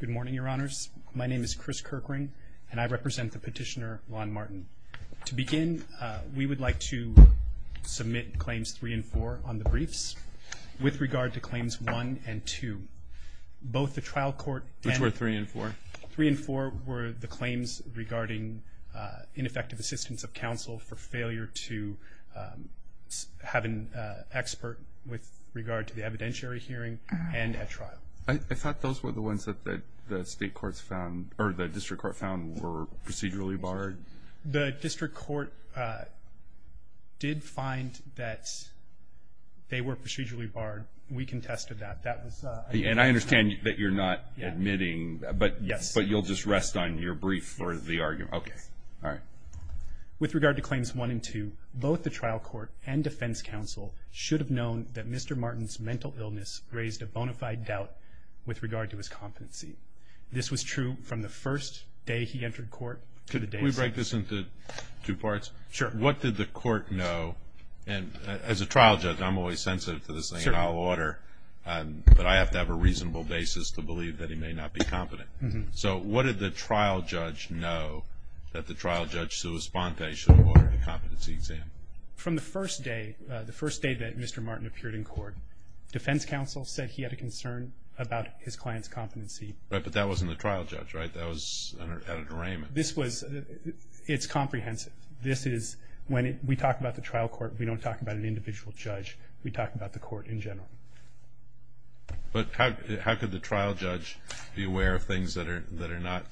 Good morning, your honors. My name is Chris Kirkring, and I represent the petitioner Ron Martin. To begin, we would like to submit claims 3 and 4 on the briefs with regard to claims 1 and 2. Both the trial court and... Which were 3 and 4? 3 and 4 were the claims regarding ineffective assistance of counsel for failure to have an expert with regard to the evidentiary hearing and at trial. I thought those were the ones that the district court found were procedurally barred. The district court did find that they were procedurally barred. We contested that. And I understand that you're not admitting, but you'll just rest on your brief for the argument? Yes. Okay. All right. With regard to claims 1 and 2, both the trial court and defense counsel should have known that Mr. Martin's mental illness raised a bona fide doubt with regard to his competency. This was true from the first day he entered court to the day... Can we break this into two parts? Sure. What did the court know? And as a trial judge, I'm always sensitive to this thing, and I'll order, but I have to have a reasonable basis to believe that he may not be competent. So what did the trial judge know that the trial judge sui sponte should award the competency exam? From the first day, the first day that Mr. Martin appeared in court, defense counsel said he had a concern about his client's competency. But that wasn't the trial judge, right? That was Editor Raymond. It's comprehensive. This is when we talk about the trial court, we don't talk about an individual judge. We talk about the court in general. But how could the trial judge be aware of things that are not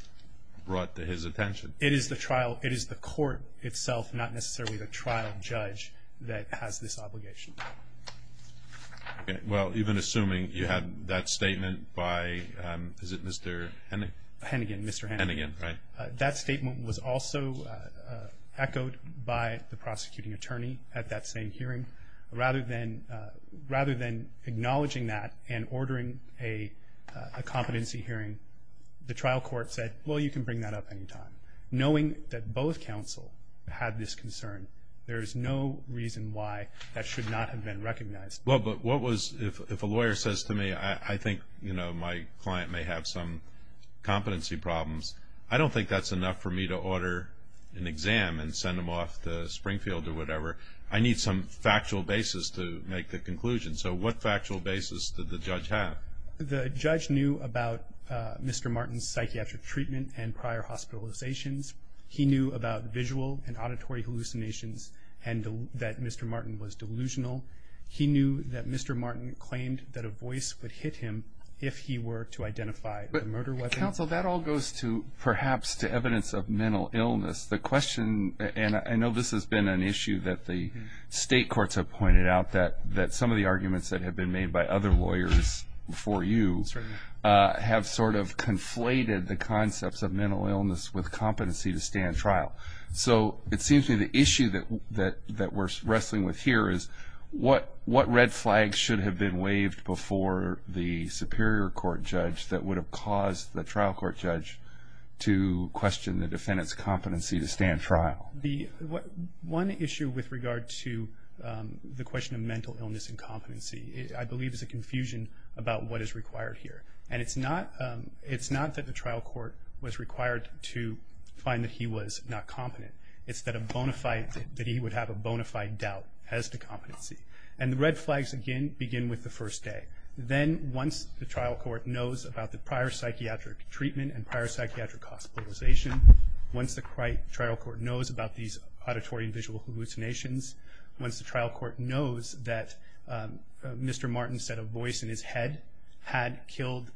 brought to his attention? It is the trial. It is the court itself, not necessarily the trial judge, that has this obligation. Okay. Well, even assuming you have that statement by, is it Mr. Hennigan? Hennigan, Mr. Hennigan. Hennigan, right. That statement was also echoed by the prosecuting attorney at that same hearing. Rather than acknowledging that and ordering a competency hearing, the trial court said, well, you can bring that up any time. Knowing that both counsel had this concern, there is no reason why that should not have been recognized. Well, but what was, if a lawyer says to me, I think, you know, my client may have some competency problems, I don't think that's enough for me to order an exam and send them off to Springfield or whatever. I need some factual basis to make the conclusion. So what factual basis did the judge have? The judge knew about Mr. Martin's psychiatric treatment and prior hospitalizations. He knew about visual and auditory hallucinations and that Mr. Martin was delusional. He knew that Mr. Martin claimed that a voice would hit him if he were to identify the murder weapon. Counsel, that all goes to perhaps to evidence of mental illness. The question, and I know this has been an issue that the state courts have pointed out, that some of the arguments that have been made by other lawyers before you have sort of conflated the concepts of mental illness with competency to stand trial. So it seems to me the issue that we're wrestling with here is what red flag should have been waved before the Superior Court judge that would have caused the trial court judge to question the defendant's competency to stand trial? One issue with regard to the question of mental illness and competency, I believe is a confusion about what is required here. And it's not that the trial court was required to find that he was not competent. It's that he would have a bona fide doubt as to competency. And the red flags, again, begin with the first day. Then once the trial court knows about the prior psychiatric treatment and prior psychiatric hospitalization, once the trial court knows about these auditory and visual hallucinations, once the trial court knows that Mr. Martin said a voice in his head had killed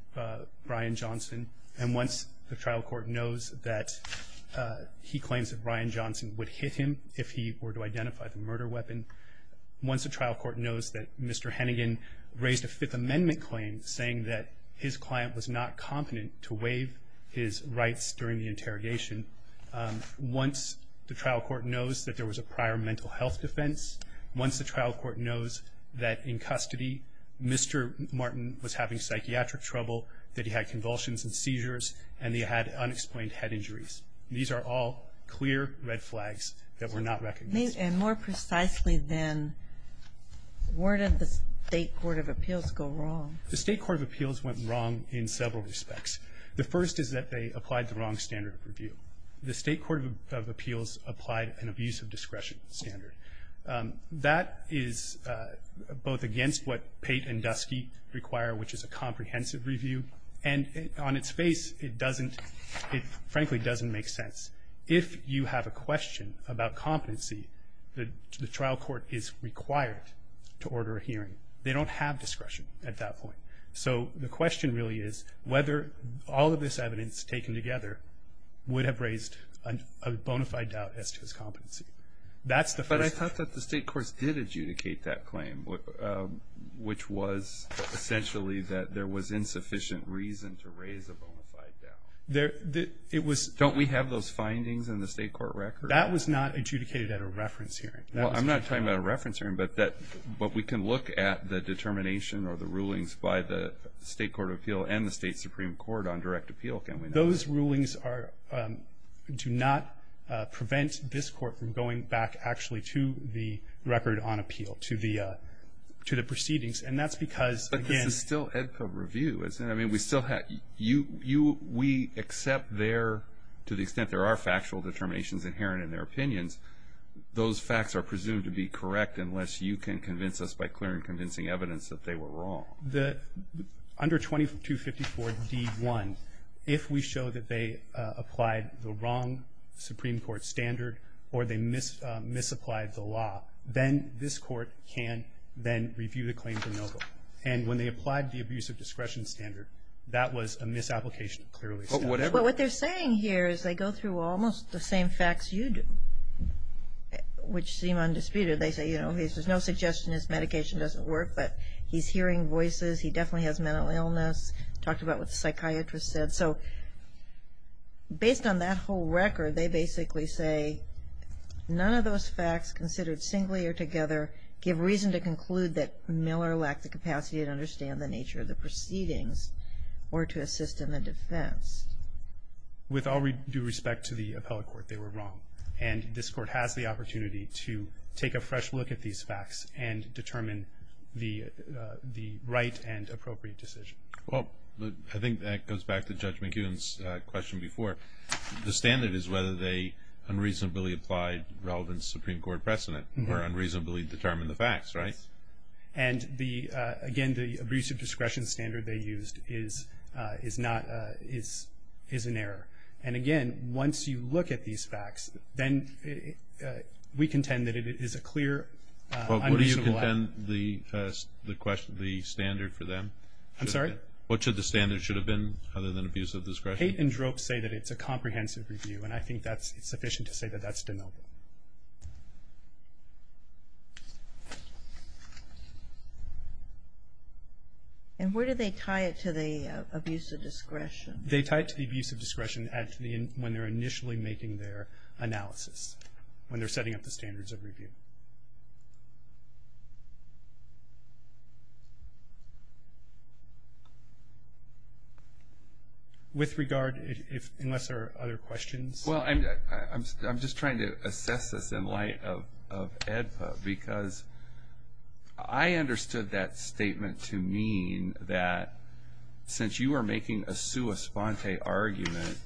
Brian Johnson, and once the trial court knows that he claims that Brian Johnson would hit him if he were to identify the murder weapon, once the trial court knows that Mr. Hennigan raised a Fifth Amendment claim saying that his client was not competent to waive his rights during the interrogation, once the trial court knows that there was a prior mental health defense, once the trial court knows that in custody Mr. Martin was having psychiatric trouble, that he had convulsions and seizures, and that he had unexplained head injuries. These are all clear red flags that were not recognized. And more precisely then, where did the State Court of Appeals go wrong? The State Court of Appeals went wrong in several respects. The first is that they applied the wrong standard of review. The State Court of Appeals applied an abuse of discretion standard. That is both against what Pate and Dusky require, which is a comprehensive review, and on its face, it frankly doesn't make sense. If you have a question about competency, the trial court is required to order a hearing. They don't have discretion at that point. So the question really is whether all of this evidence taken together would have raised a bona fide doubt as to his competency. But I thought that the state courts did adjudicate that claim, which was essentially that there was insufficient reason to raise a bona fide doubt. Don't we have those findings in the state court record? That was not adjudicated at a reference hearing. Well, I'm not talking about a reference hearing, but we can look at the determination or the rulings by the State Court of Appeals and the State Supreme Court on direct appeal, can't we? Those rulings do not prevent this court from going back actually to the record on appeal, to the proceedings, and that's because, again... But this is still Edco review, isn't it? We accept to the extent there are factual determinations inherent in their opinions, those facts are presumed to be correct unless you can convince us by clear and convincing evidence that they were wrong. Under 2254d.1, if we show that they applied the wrong Supreme Court standard or they misapplied the law, then this court can then review the claim de novo. And when they applied the abuse of discretion standard, that was a misapplication clearly stated. But what they're saying here is they go through almost the same facts you do, which seem undisputed. They say, you know, there's no suggestion this medication doesn't work, but he's hearing voices, he definitely has mental illness, talked about what the psychiatrist said. So based on that whole record, they basically say none of those facts considered singly or together give reason to conclude that Miller lacked the capacity to understand the nature of the proceedings or to assist in the defense. With all due respect to the appellate court, they were wrong. And this court has the opportunity to take a fresh look at these facts and determine the right and appropriate decision. Well, I think that goes back to Judge McEwen's question before. The standard is whether they unreasonably applied relevant Supreme Court precedent or unreasonably determined the facts, right? And, again, the abuse of discretion standard they used is an error. And, again, once you look at these facts, then we contend that it is a clear unreasonable act. What do you contend the standard for them? I'm sorry? So hate and drope say that it's a comprehensive review, and I think it's sufficient to say that that's deniable. And where do they tie it to the abuse of discretion? They tie it to the abuse of discretion when they're initially making their analysis, With regard, unless there are other questions. Well, I'm just trying to assess this in light of AEDPA, because I understood that statement to mean that since you are making a sua sponte argument,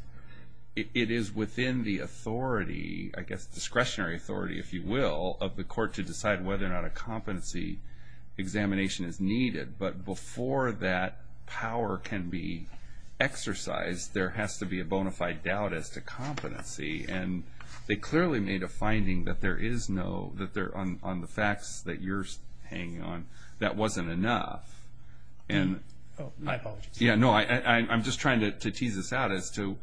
it is within the authority, I guess discretionary authority, if you will, of the court to decide whether or not a competency examination is needed. But before that power can be exercised, there has to be a bona fide doubt as to competency. And they clearly made a finding that there is no, that on the facts that you're hanging on, that wasn't enough. Oh, my apologies. Yeah, no, I'm just trying to tease this out as to,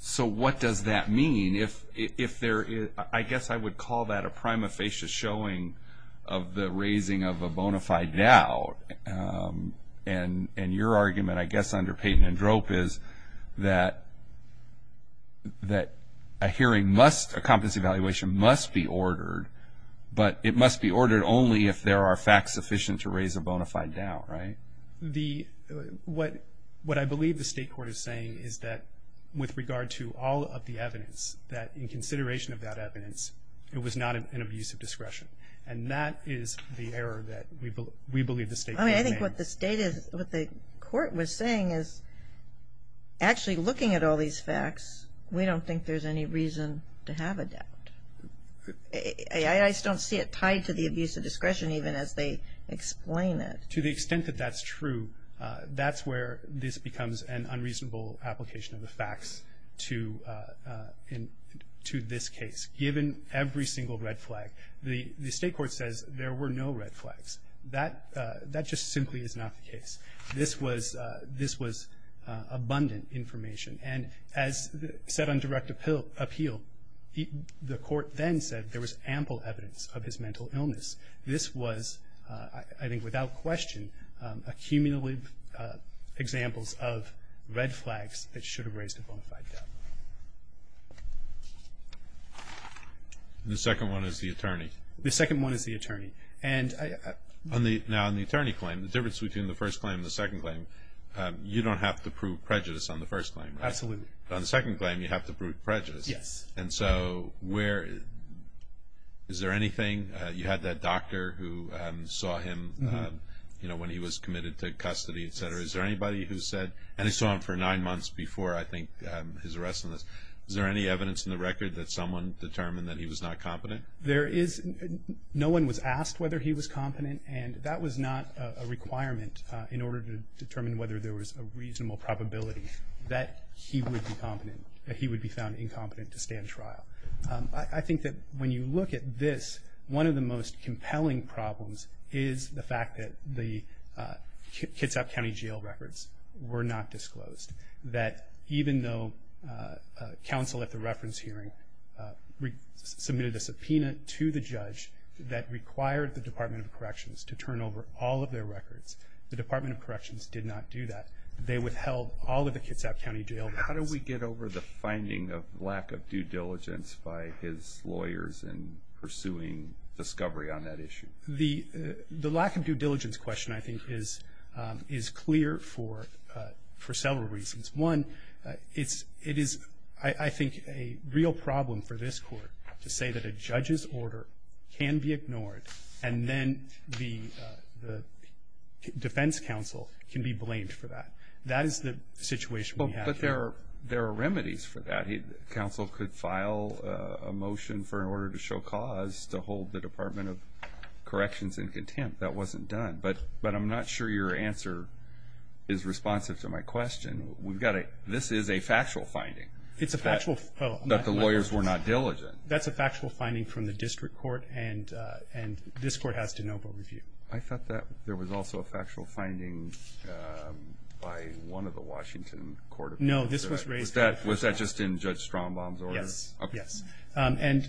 so what does that mean? If there is, I guess I would call that a prima facie showing of the raising of a bona fide doubt. And your argument, I guess, under hate and drope is that a hearing must, a competency evaluation must be ordered, but it must be ordered only if there are facts sufficient to raise a bona fide doubt, right? The, what I believe the state court is saying is that with regard to all of the evidence, that in consideration of that evidence, it was not an abuse of discretion. And that is the error that we believe the state court made. I mean, I think what the state is, what the court was saying is actually looking at all these facts, we don't think there's any reason to have a doubt. I just don't see it tied to the abuse of discretion even as they explain it. To the extent that that's true, that's where this becomes an unreasonable application of the facts to this case. Given every single red flag, the state court says there were no red flags. That just simply is not the case. This was abundant information. And as set on direct appeal, the court then said there was ample evidence of his mental illness. This was, I think without question, accumulative examples of red flags that should have raised a bona fide doubt. The second one is the attorney. The second one is the attorney. And I, Now on the attorney claim, the difference between the first claim and the second claim, you don't have to prove prejudice on the first claim, right? Absolutely. On the second claim, you have to prove prejudice. Yes. And so where, is there anything, you had that doctor who saw him when he was committed to custody, et cetera. Is there anybody who said, and they saw him for nine months before I think his arrest on this, is there any evidence in the record that someone determined that he was not competent? There is. No one was asked whether he was competent, and that was not a requirement in order to determine whether there was a reasonable probability that he would be competent, that he would be found incompetent to stand trial. I think that when you look at this, one of the most compelling problems is the fact that the Kitsap County Jail records were not disclosed. That even though counsel at the reference hearing submitted a subpoena to the judge that required the Department of Corrections to turn over all of their records, the Department of Corrections did not do that. They withheld all of the Kitsap County Jail records. How do we get over the finding of lack of due diligence by his lawyers in pursuing discovery on that issue? The lack of due diligence question I think is clear for several reasons. One, it is I think a real problem for this court to say that a judge's order can be ignored and then the defense counsel can be blamed for that. That is the situation we have here. But there are remedies for that. Counsel could file a motion for an order to show cause to hold the Department of Corrections in contempt. That wasn't done. But I'm not sure your answer is responsive to my question. This is a factual finding that the lawyers were not diligent. That's a factual finding from the district court, and this court has de novo review. I thought that there was also a factual finding by one of the Washington court appeals. No, this was raised. Was that just in Judge Strombaum's order? Yes, yes. And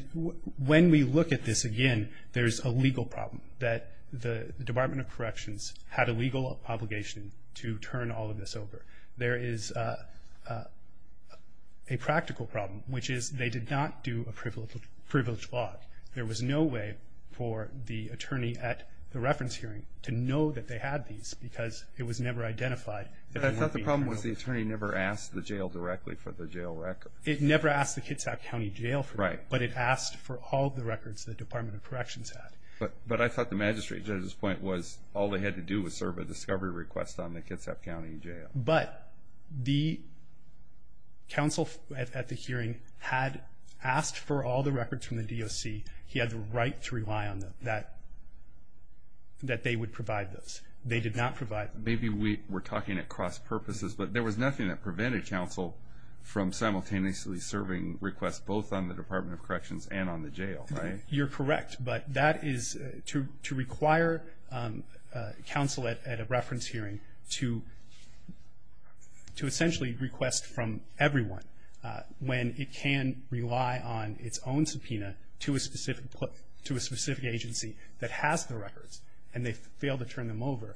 when we look at this again, there's a legal problem, that the Department of Corrections had a legal obligation to turn all of this over. There is a practical problem, which is they did not do a privileged log. There was no way for the attorney at the reference hearing to know that they had these because it was never identified. But I thought the problem was the attorney never asked the jail directly for the jail record. It never asked the Kitsap County Jail for them. Right. But it asked for all the records the Department of Corrections had. But I thought the magistrate, at this point, was all they had to do was serve a discovery request on the Kitsap County Jail. But the counsel at the hearing had asked for all the records from the DOC. He had the right to rely on them, that they would provide those. They did not provide them. Maybe we're talking at cross purposes, but there was nothing that prevented counsel from simultaneously serving requests, both on the Department of Corrections and on the jail, right? You're correct. But that is to require counsel at a reference hearing to essentially request from everyone when it can rely on its own subpoena to a specific agency that has the records and they fail to turn them over.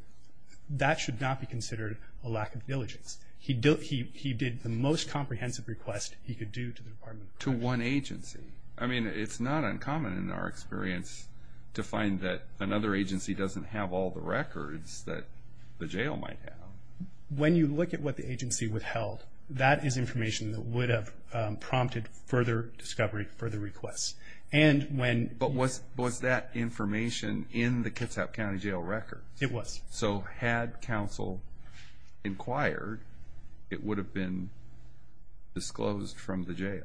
That should not be considered a lack of diligence. He did the most comprehensive request he could do to the Department of Corrections. To one agency. I mean, it's not uncommon in our experience to find that another agency doesn't have all the records that the jail might have. When you look at what the agency withheld, that is information that would have prompted further discovery, further requests. But was that information in the Kitsap County Jail records? It was. So had counsel inquired, it would have been disclosed from the jail?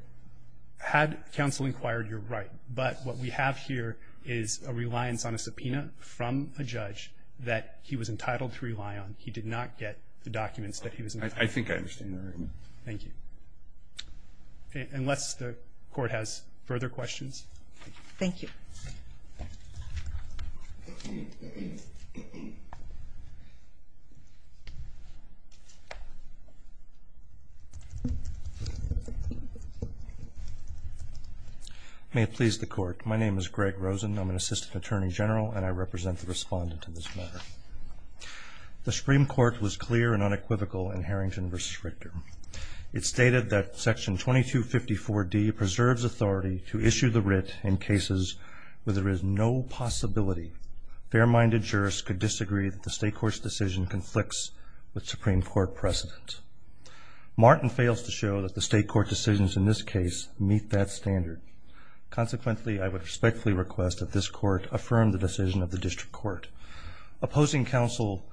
Had counsel inquired, you're right. But what we have here is a reliance on a subpoena from a judge that he was entitled to rely on. He did not get the documents that he was entitled to. I think I understand that argument. Thank you. Unless the Court has further questions. Thank you. May it please the Court. My name is Greg Rosen. I'm an Assistant Attorney General, and I represent the respondent in this matter. The Supreme Court was clear and unequivocal in Harrington v. Richter. It stated that Section 2254D preserves authority to issue the writ in cases where there is no possibility. Fair-minded jurists could disagree that the State Court's decision conflicts with Supreme Court precedent. Martin fails to show that the State Court decisions in this case meet that standard. Consequently, I would respectfully request that this Court affirm the decision of the District Court. Opposing counsel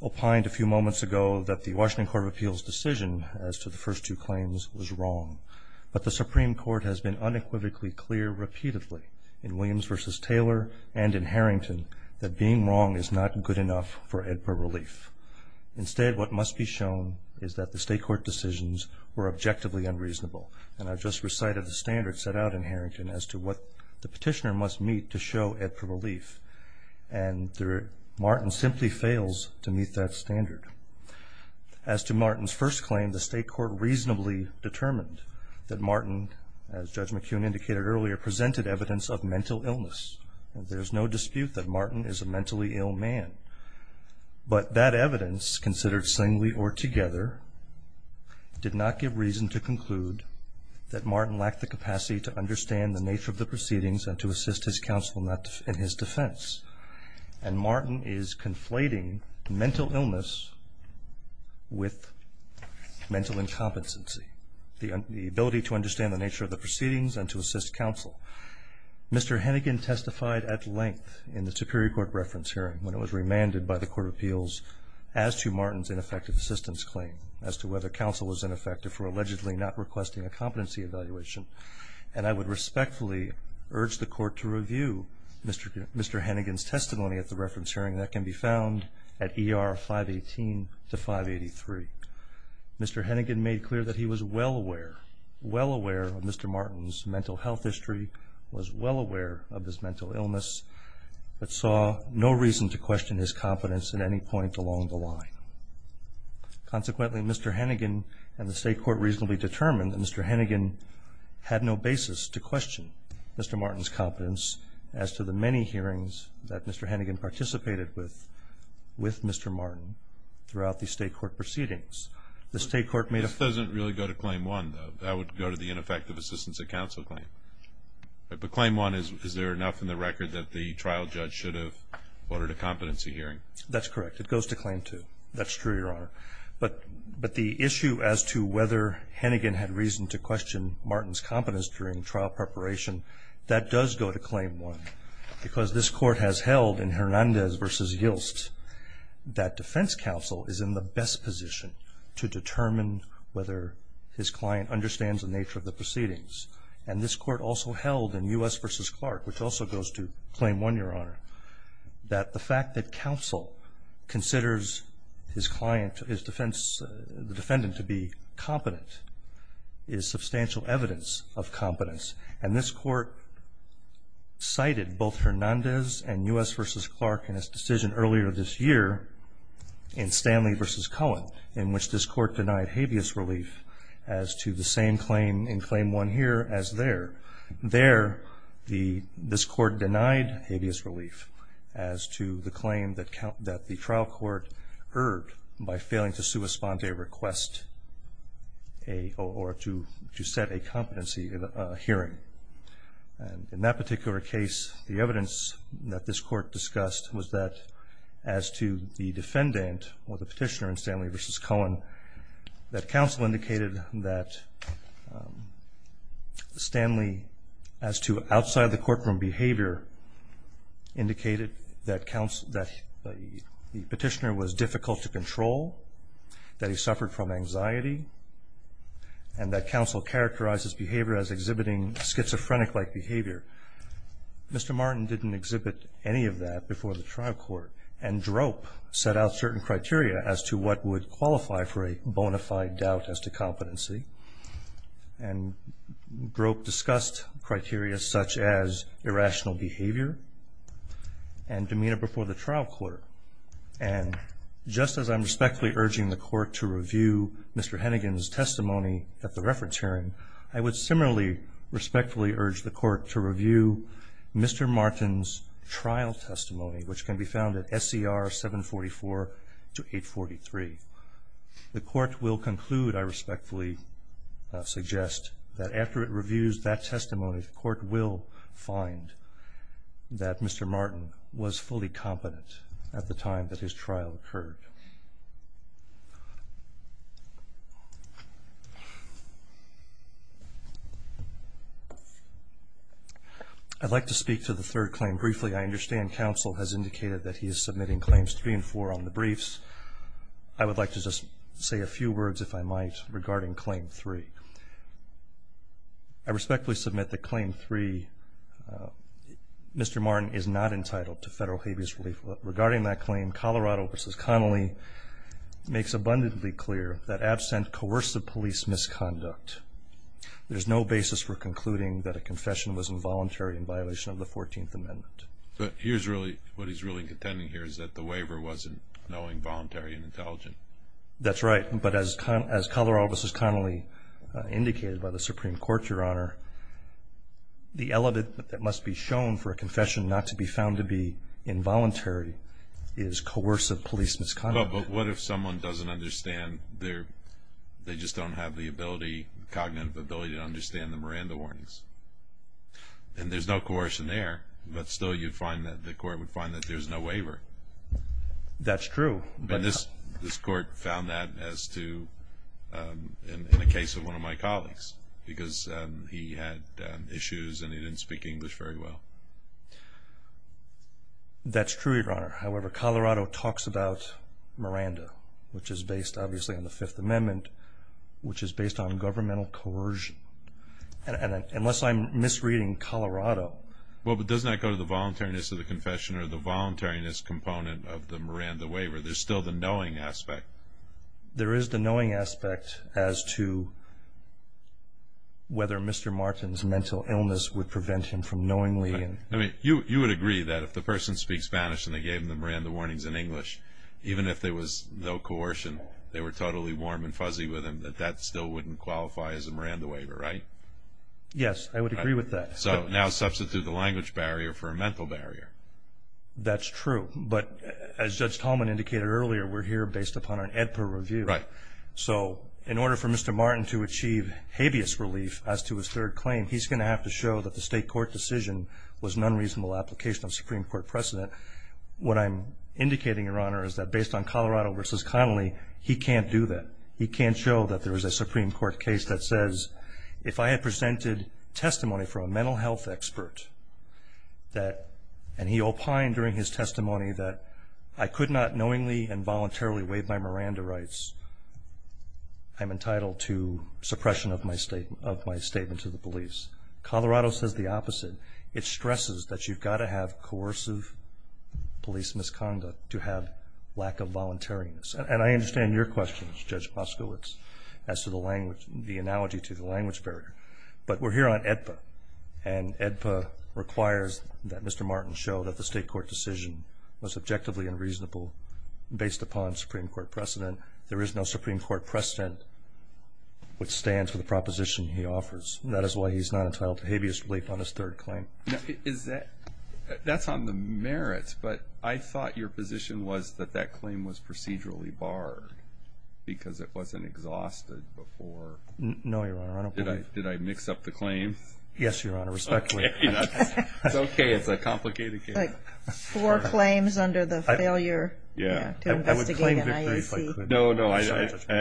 opined a few moments ago that the Washington Court of Appeals' decision as to the first two claims was wrong. But the Supreme Court has been unequivocally clear repeatedly in Williams v. Taylor and in Harrington that being wrong is not good enough for AEDPA relief. Instead, what must be shown is that the State Court decisions were objectively unreasonable. And I just recited the standard set out in Harrington as to what the petitioner must meet to show AEDPA relief. And Martin simply fails to meet that standard. As to Martin's first claim, the State Court reasonably determined that Martin, as Judge McKeown indicated earlier, presented evidence of mental illness. There is no dispute that Martin is a mentally ill man. But that evidence, considered singly or together, did not give reason to conclude that Martin lacked the capacity to understand the nature of the proceedings and to assist his counsel in his defense. And Martin is conflating mental illness with mental incompetency, the ability to understand the nature of the proceedings and to assist counsel. Mr. Hennigan testified at length in the Superior Court reference hearing when it was remanded by the Court of Appeals as to Martin's ineffective assistance claim, as to whether counsel was ineffective for allegedly not requesting a competency evaluation. And I would respectfully urge the Court to review Mr. Hennigan's testimony at the reference hearing. That can be found at ER 518 to 583. Mr. Hennigan made clear that he was well aware, well aware of Mr. Martin's mental health history, was well aware of his mental illness, but saw no reason to question his competence at any point along the line. Consequently, Mr. Hennigan and the State Court reasonably determined that Mr. Hennigan had no basis to question Mr. Martin's competence as to the many hearings that Mr. Hennigan participated with with Mr. Martin throughout the State Court proceedings. The State Court made a- This doesn't really go to claim one, though. That would go to the ineffective assistance at counsel claim. But claim one, is there enough in the record that the trial judge should have ordered a competency hearing? That's correct. It goes to claim two. That's true, Your Honor. But the issue as to whether Hennigan had reason to question Martin's competence during trial preparation, that does go to claim one, because this Court has held in Hernandez v. Yilst that defense counsel is in the best position to determine whether his client understands the nature of the proceedings. And this Court also held in U.S. v. Clark, which also goes to claim one, Your Honor, that the fact that counsel considers his client, his defense, the defendant to be competent, is substantial evidence of competence. And this Court cited both Hernandez and U.S. v. Clark in its decision earlier this year in Stanley v. Cohen, in which this Court denied habeas relief as to the same claim in claim one here as there. There, this Court denied habeas relief as to the claim that the trial court erred by failing to set a competency hearing. And in that particular case, the evidence that this Court discussed was that as to the defendant or the petitioner in Stanley v. Cohen, that counsel indicated that Stanley, as to outside-the-courtroom behavior, indicated that the petitioner was difficult to control, that he suffered from anxiety, and that counsel characterized his behavior as exhibiting schizophrenic-like behavior. Mr. Martin didn't exhibit any of that before the trial court. And Drope set out certain criteria as to what would qualify for a bona fide doubt as to competency. And Drope discussed criteria such as irrational behavior and demeanor before the trial court. And just as I'm respectfully urging the Court to review Mr. Hennigan's testimony at the reference hearing, I would similarly respectfully urge the Court to review Mr. Martin's trial testimony, which can be found at SCR 744-843. The Court will conclude, I respectfully suggest, that after it reviews that testimony, the Court will find that Mr. Martin was fully competent at the time that his trial occurred. I'd like to speak to the third claim briefly. I understand counsel has indicated that he is submitting Claims 3 and 4 on the briefs. I would like to just say a few words, if I might, regarding Claim 3. I respectfully submit that Claim 3, Mr. Martin is not entitled to federal habeas relief. Regarding that claim, Colorado v. Connolly makes abundantly clear that absent coercive police misconduct, there's no basis for concluding that a confession was involuntary in violation of the 14th Amendment. But here's really what he's really contending here is that the waiver wasn't knowing, voluntary, and intelligent. That's right. But as Colorado v. Connolly indicated by the Supreme Court, Your Honor, the element that must be shown for a confession not to be found to be involuntary is coercive police misconduct. But what if someone doesn't understand? They just don't have the ability, cognitive ability, to understand the Miranda warnings? And there's no coercion there, but still you'd find that the Court would find that there's no waiver. That's true. And this Court found that as to, in the case of one of my colleagues, because he had issues and he didn't speak English very well. That's true, Your Honor. However, Colorado talks about Miranda, which is based, obviously, on the Fifth Amendment, which is based on governmental coercion. Unless I'm misreading Colorado. Well, but doesn't that go to the voluntariness of the confession or the voluntariness component of the Miranda waiver? There's still the knowing aspect. There is the knowing aspect as to whether Mr. Martin's mental illness would prevent him from knowingly. I mean, you would agree that if the person speaks Spanish and they gave him the Miranda warnings in English, even if there was no coercion, they were totally warm and fuzzy with him, that that still wouldn't qualify as a Miranda waiver, right? Yes, I would agree with that. So now substitute the language barrier for a mental barrier. That's true. But as Judge Tolman indicated earlier, we're here based upon an AEDPA review. Right. So in order for Mr. Martin to achieve habeas relief as to his third claim, he's going to have to show that the state court decision was an unreasonable application of Supreme Court precedent. What I'm indicating, Your Honor, is that based on Colorado v. Connolly, he can't do that. He can't show that there is a Supreme Court case that says, if I had presented testimony from a mental health expert and he opined during his testimony that I could not knowingly and voluntarily waive my Miranda rights, I'm entitled to suppression of my statement to the police. Colorado says the opposite. It stresses that you've got to have coercive police misconduct to have lack of voluntariness. And I understand your question, Judge Poskowitz, as to the language, the analogy to the language barrier. But we're here on AEDPA, and AEDPA requires that Mr. Martin show that the state court decision was objectively unreasonable based upon Supreme Court precedent. There is no Supreme Court precedent which stands for the proposition he offers. That is why he's not entitled to habeas relief on his third claim. That's on the merits, but I thought your position was that that claim was procedurally barred because it wasn't exhausted before. No, Your Honor, I don't believe it. Did I mix up the claim? Yes, Your Honor, respectfully. It's okay. It's a complicated case. Four claims under the failure to investigate an IAC. No, no, I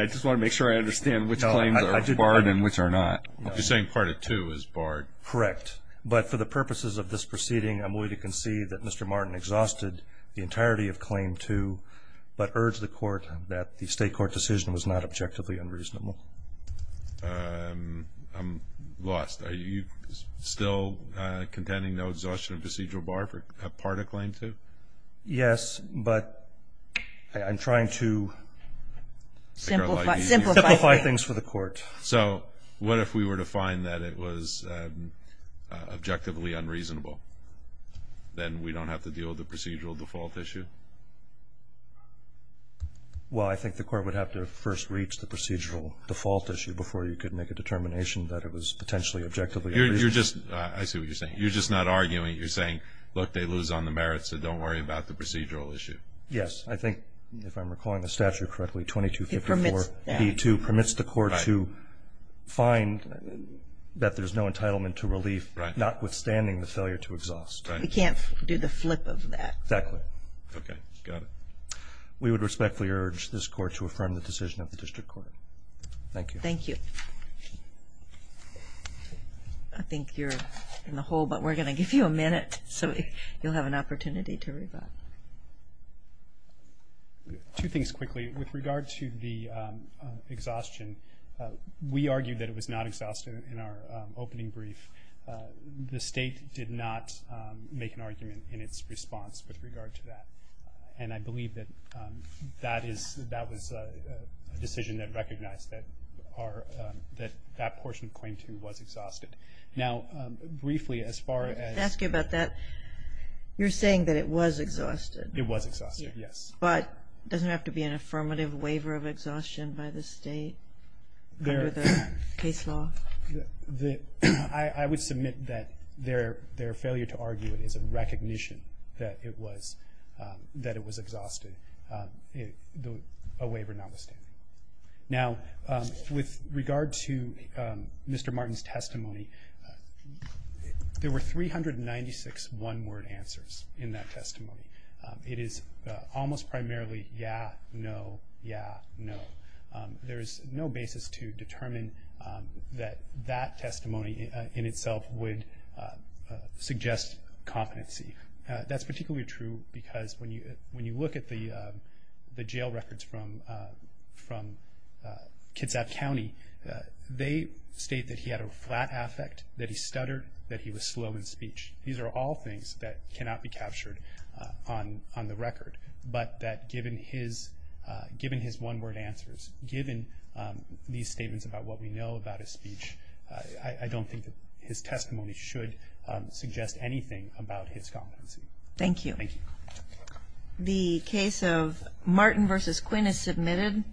just want to make sure I understand which claims are barred and which are not. You're saying part of two is barred. Correct. But for the purposes of this proceeding, I'm willing to concede that Mr. Martin exhausted the entirety of claim two, but urge the court that the state court decision was not objectively unreasonable. I'm lost. Are you still contending no exhaustion of procedural bar for part of claim two? Yes, but I'm trying to... Simplify. Simplify things for the court. So what if we were to find that it was objectively unreasonable? Then we don't have to deal with the procedural default issue? Well, I think the court would have to first reach the procedural default issue before you could make a determination that it was potentially objectively unreasonable. I see what you're saying. You're just not arguing. You're saying, look, they lose on the merits, so don't worry about the procedural issue. Yes. I think, if I'm recalling the statute correctly, 2254B2 permits the court to find that there's no entitlement to relief, notwithstanding the failure to exhaust. We can't do the flip of that. Exactly. Okay. Got it. We would respectfully urge this court to affirm the decision of the district court. Thank you. Thank you. I think you're in the hole, but we're going to give you a minute, so you'll have an opportunity to reply. Two things quickly. With regard to the exhaustion, we argued that it was not exhausted in our opening brief. The state did not make an argument in its response with regard to that, and I believe that that was a decision that recognized that that portion of Claim 2 was exhausted. Now, briefly, as far as the- Let me ask you about that. You're saying that it was exhausted. It was exhausted, yes. But doesn't it have to be an affirmative waiver of exhaustion by the state under the case law? I would submit that their failure to argue it is a recognition that it was exhausted, a waiver notwithstanding. Now, with regard to Mr. Martin's testimony, there were 396 one-word answers in that testimony. It is almost primarily yeah, no, yeah, no. There is no basis to determine that that testimony in itself would suggest competency. That's particularly true because when you look at the jail records from Kitsap County, they state that he had a flat affect, that he stuttered, that he was slow in speech. These are all things that cannot be captured on the record. But that given his one-word answers, given these statements about what we know about his speech, I don't think that his testimony should suggest anything about his competency. Thank you. Thank you. The case of Martin v. Quinn is submitted.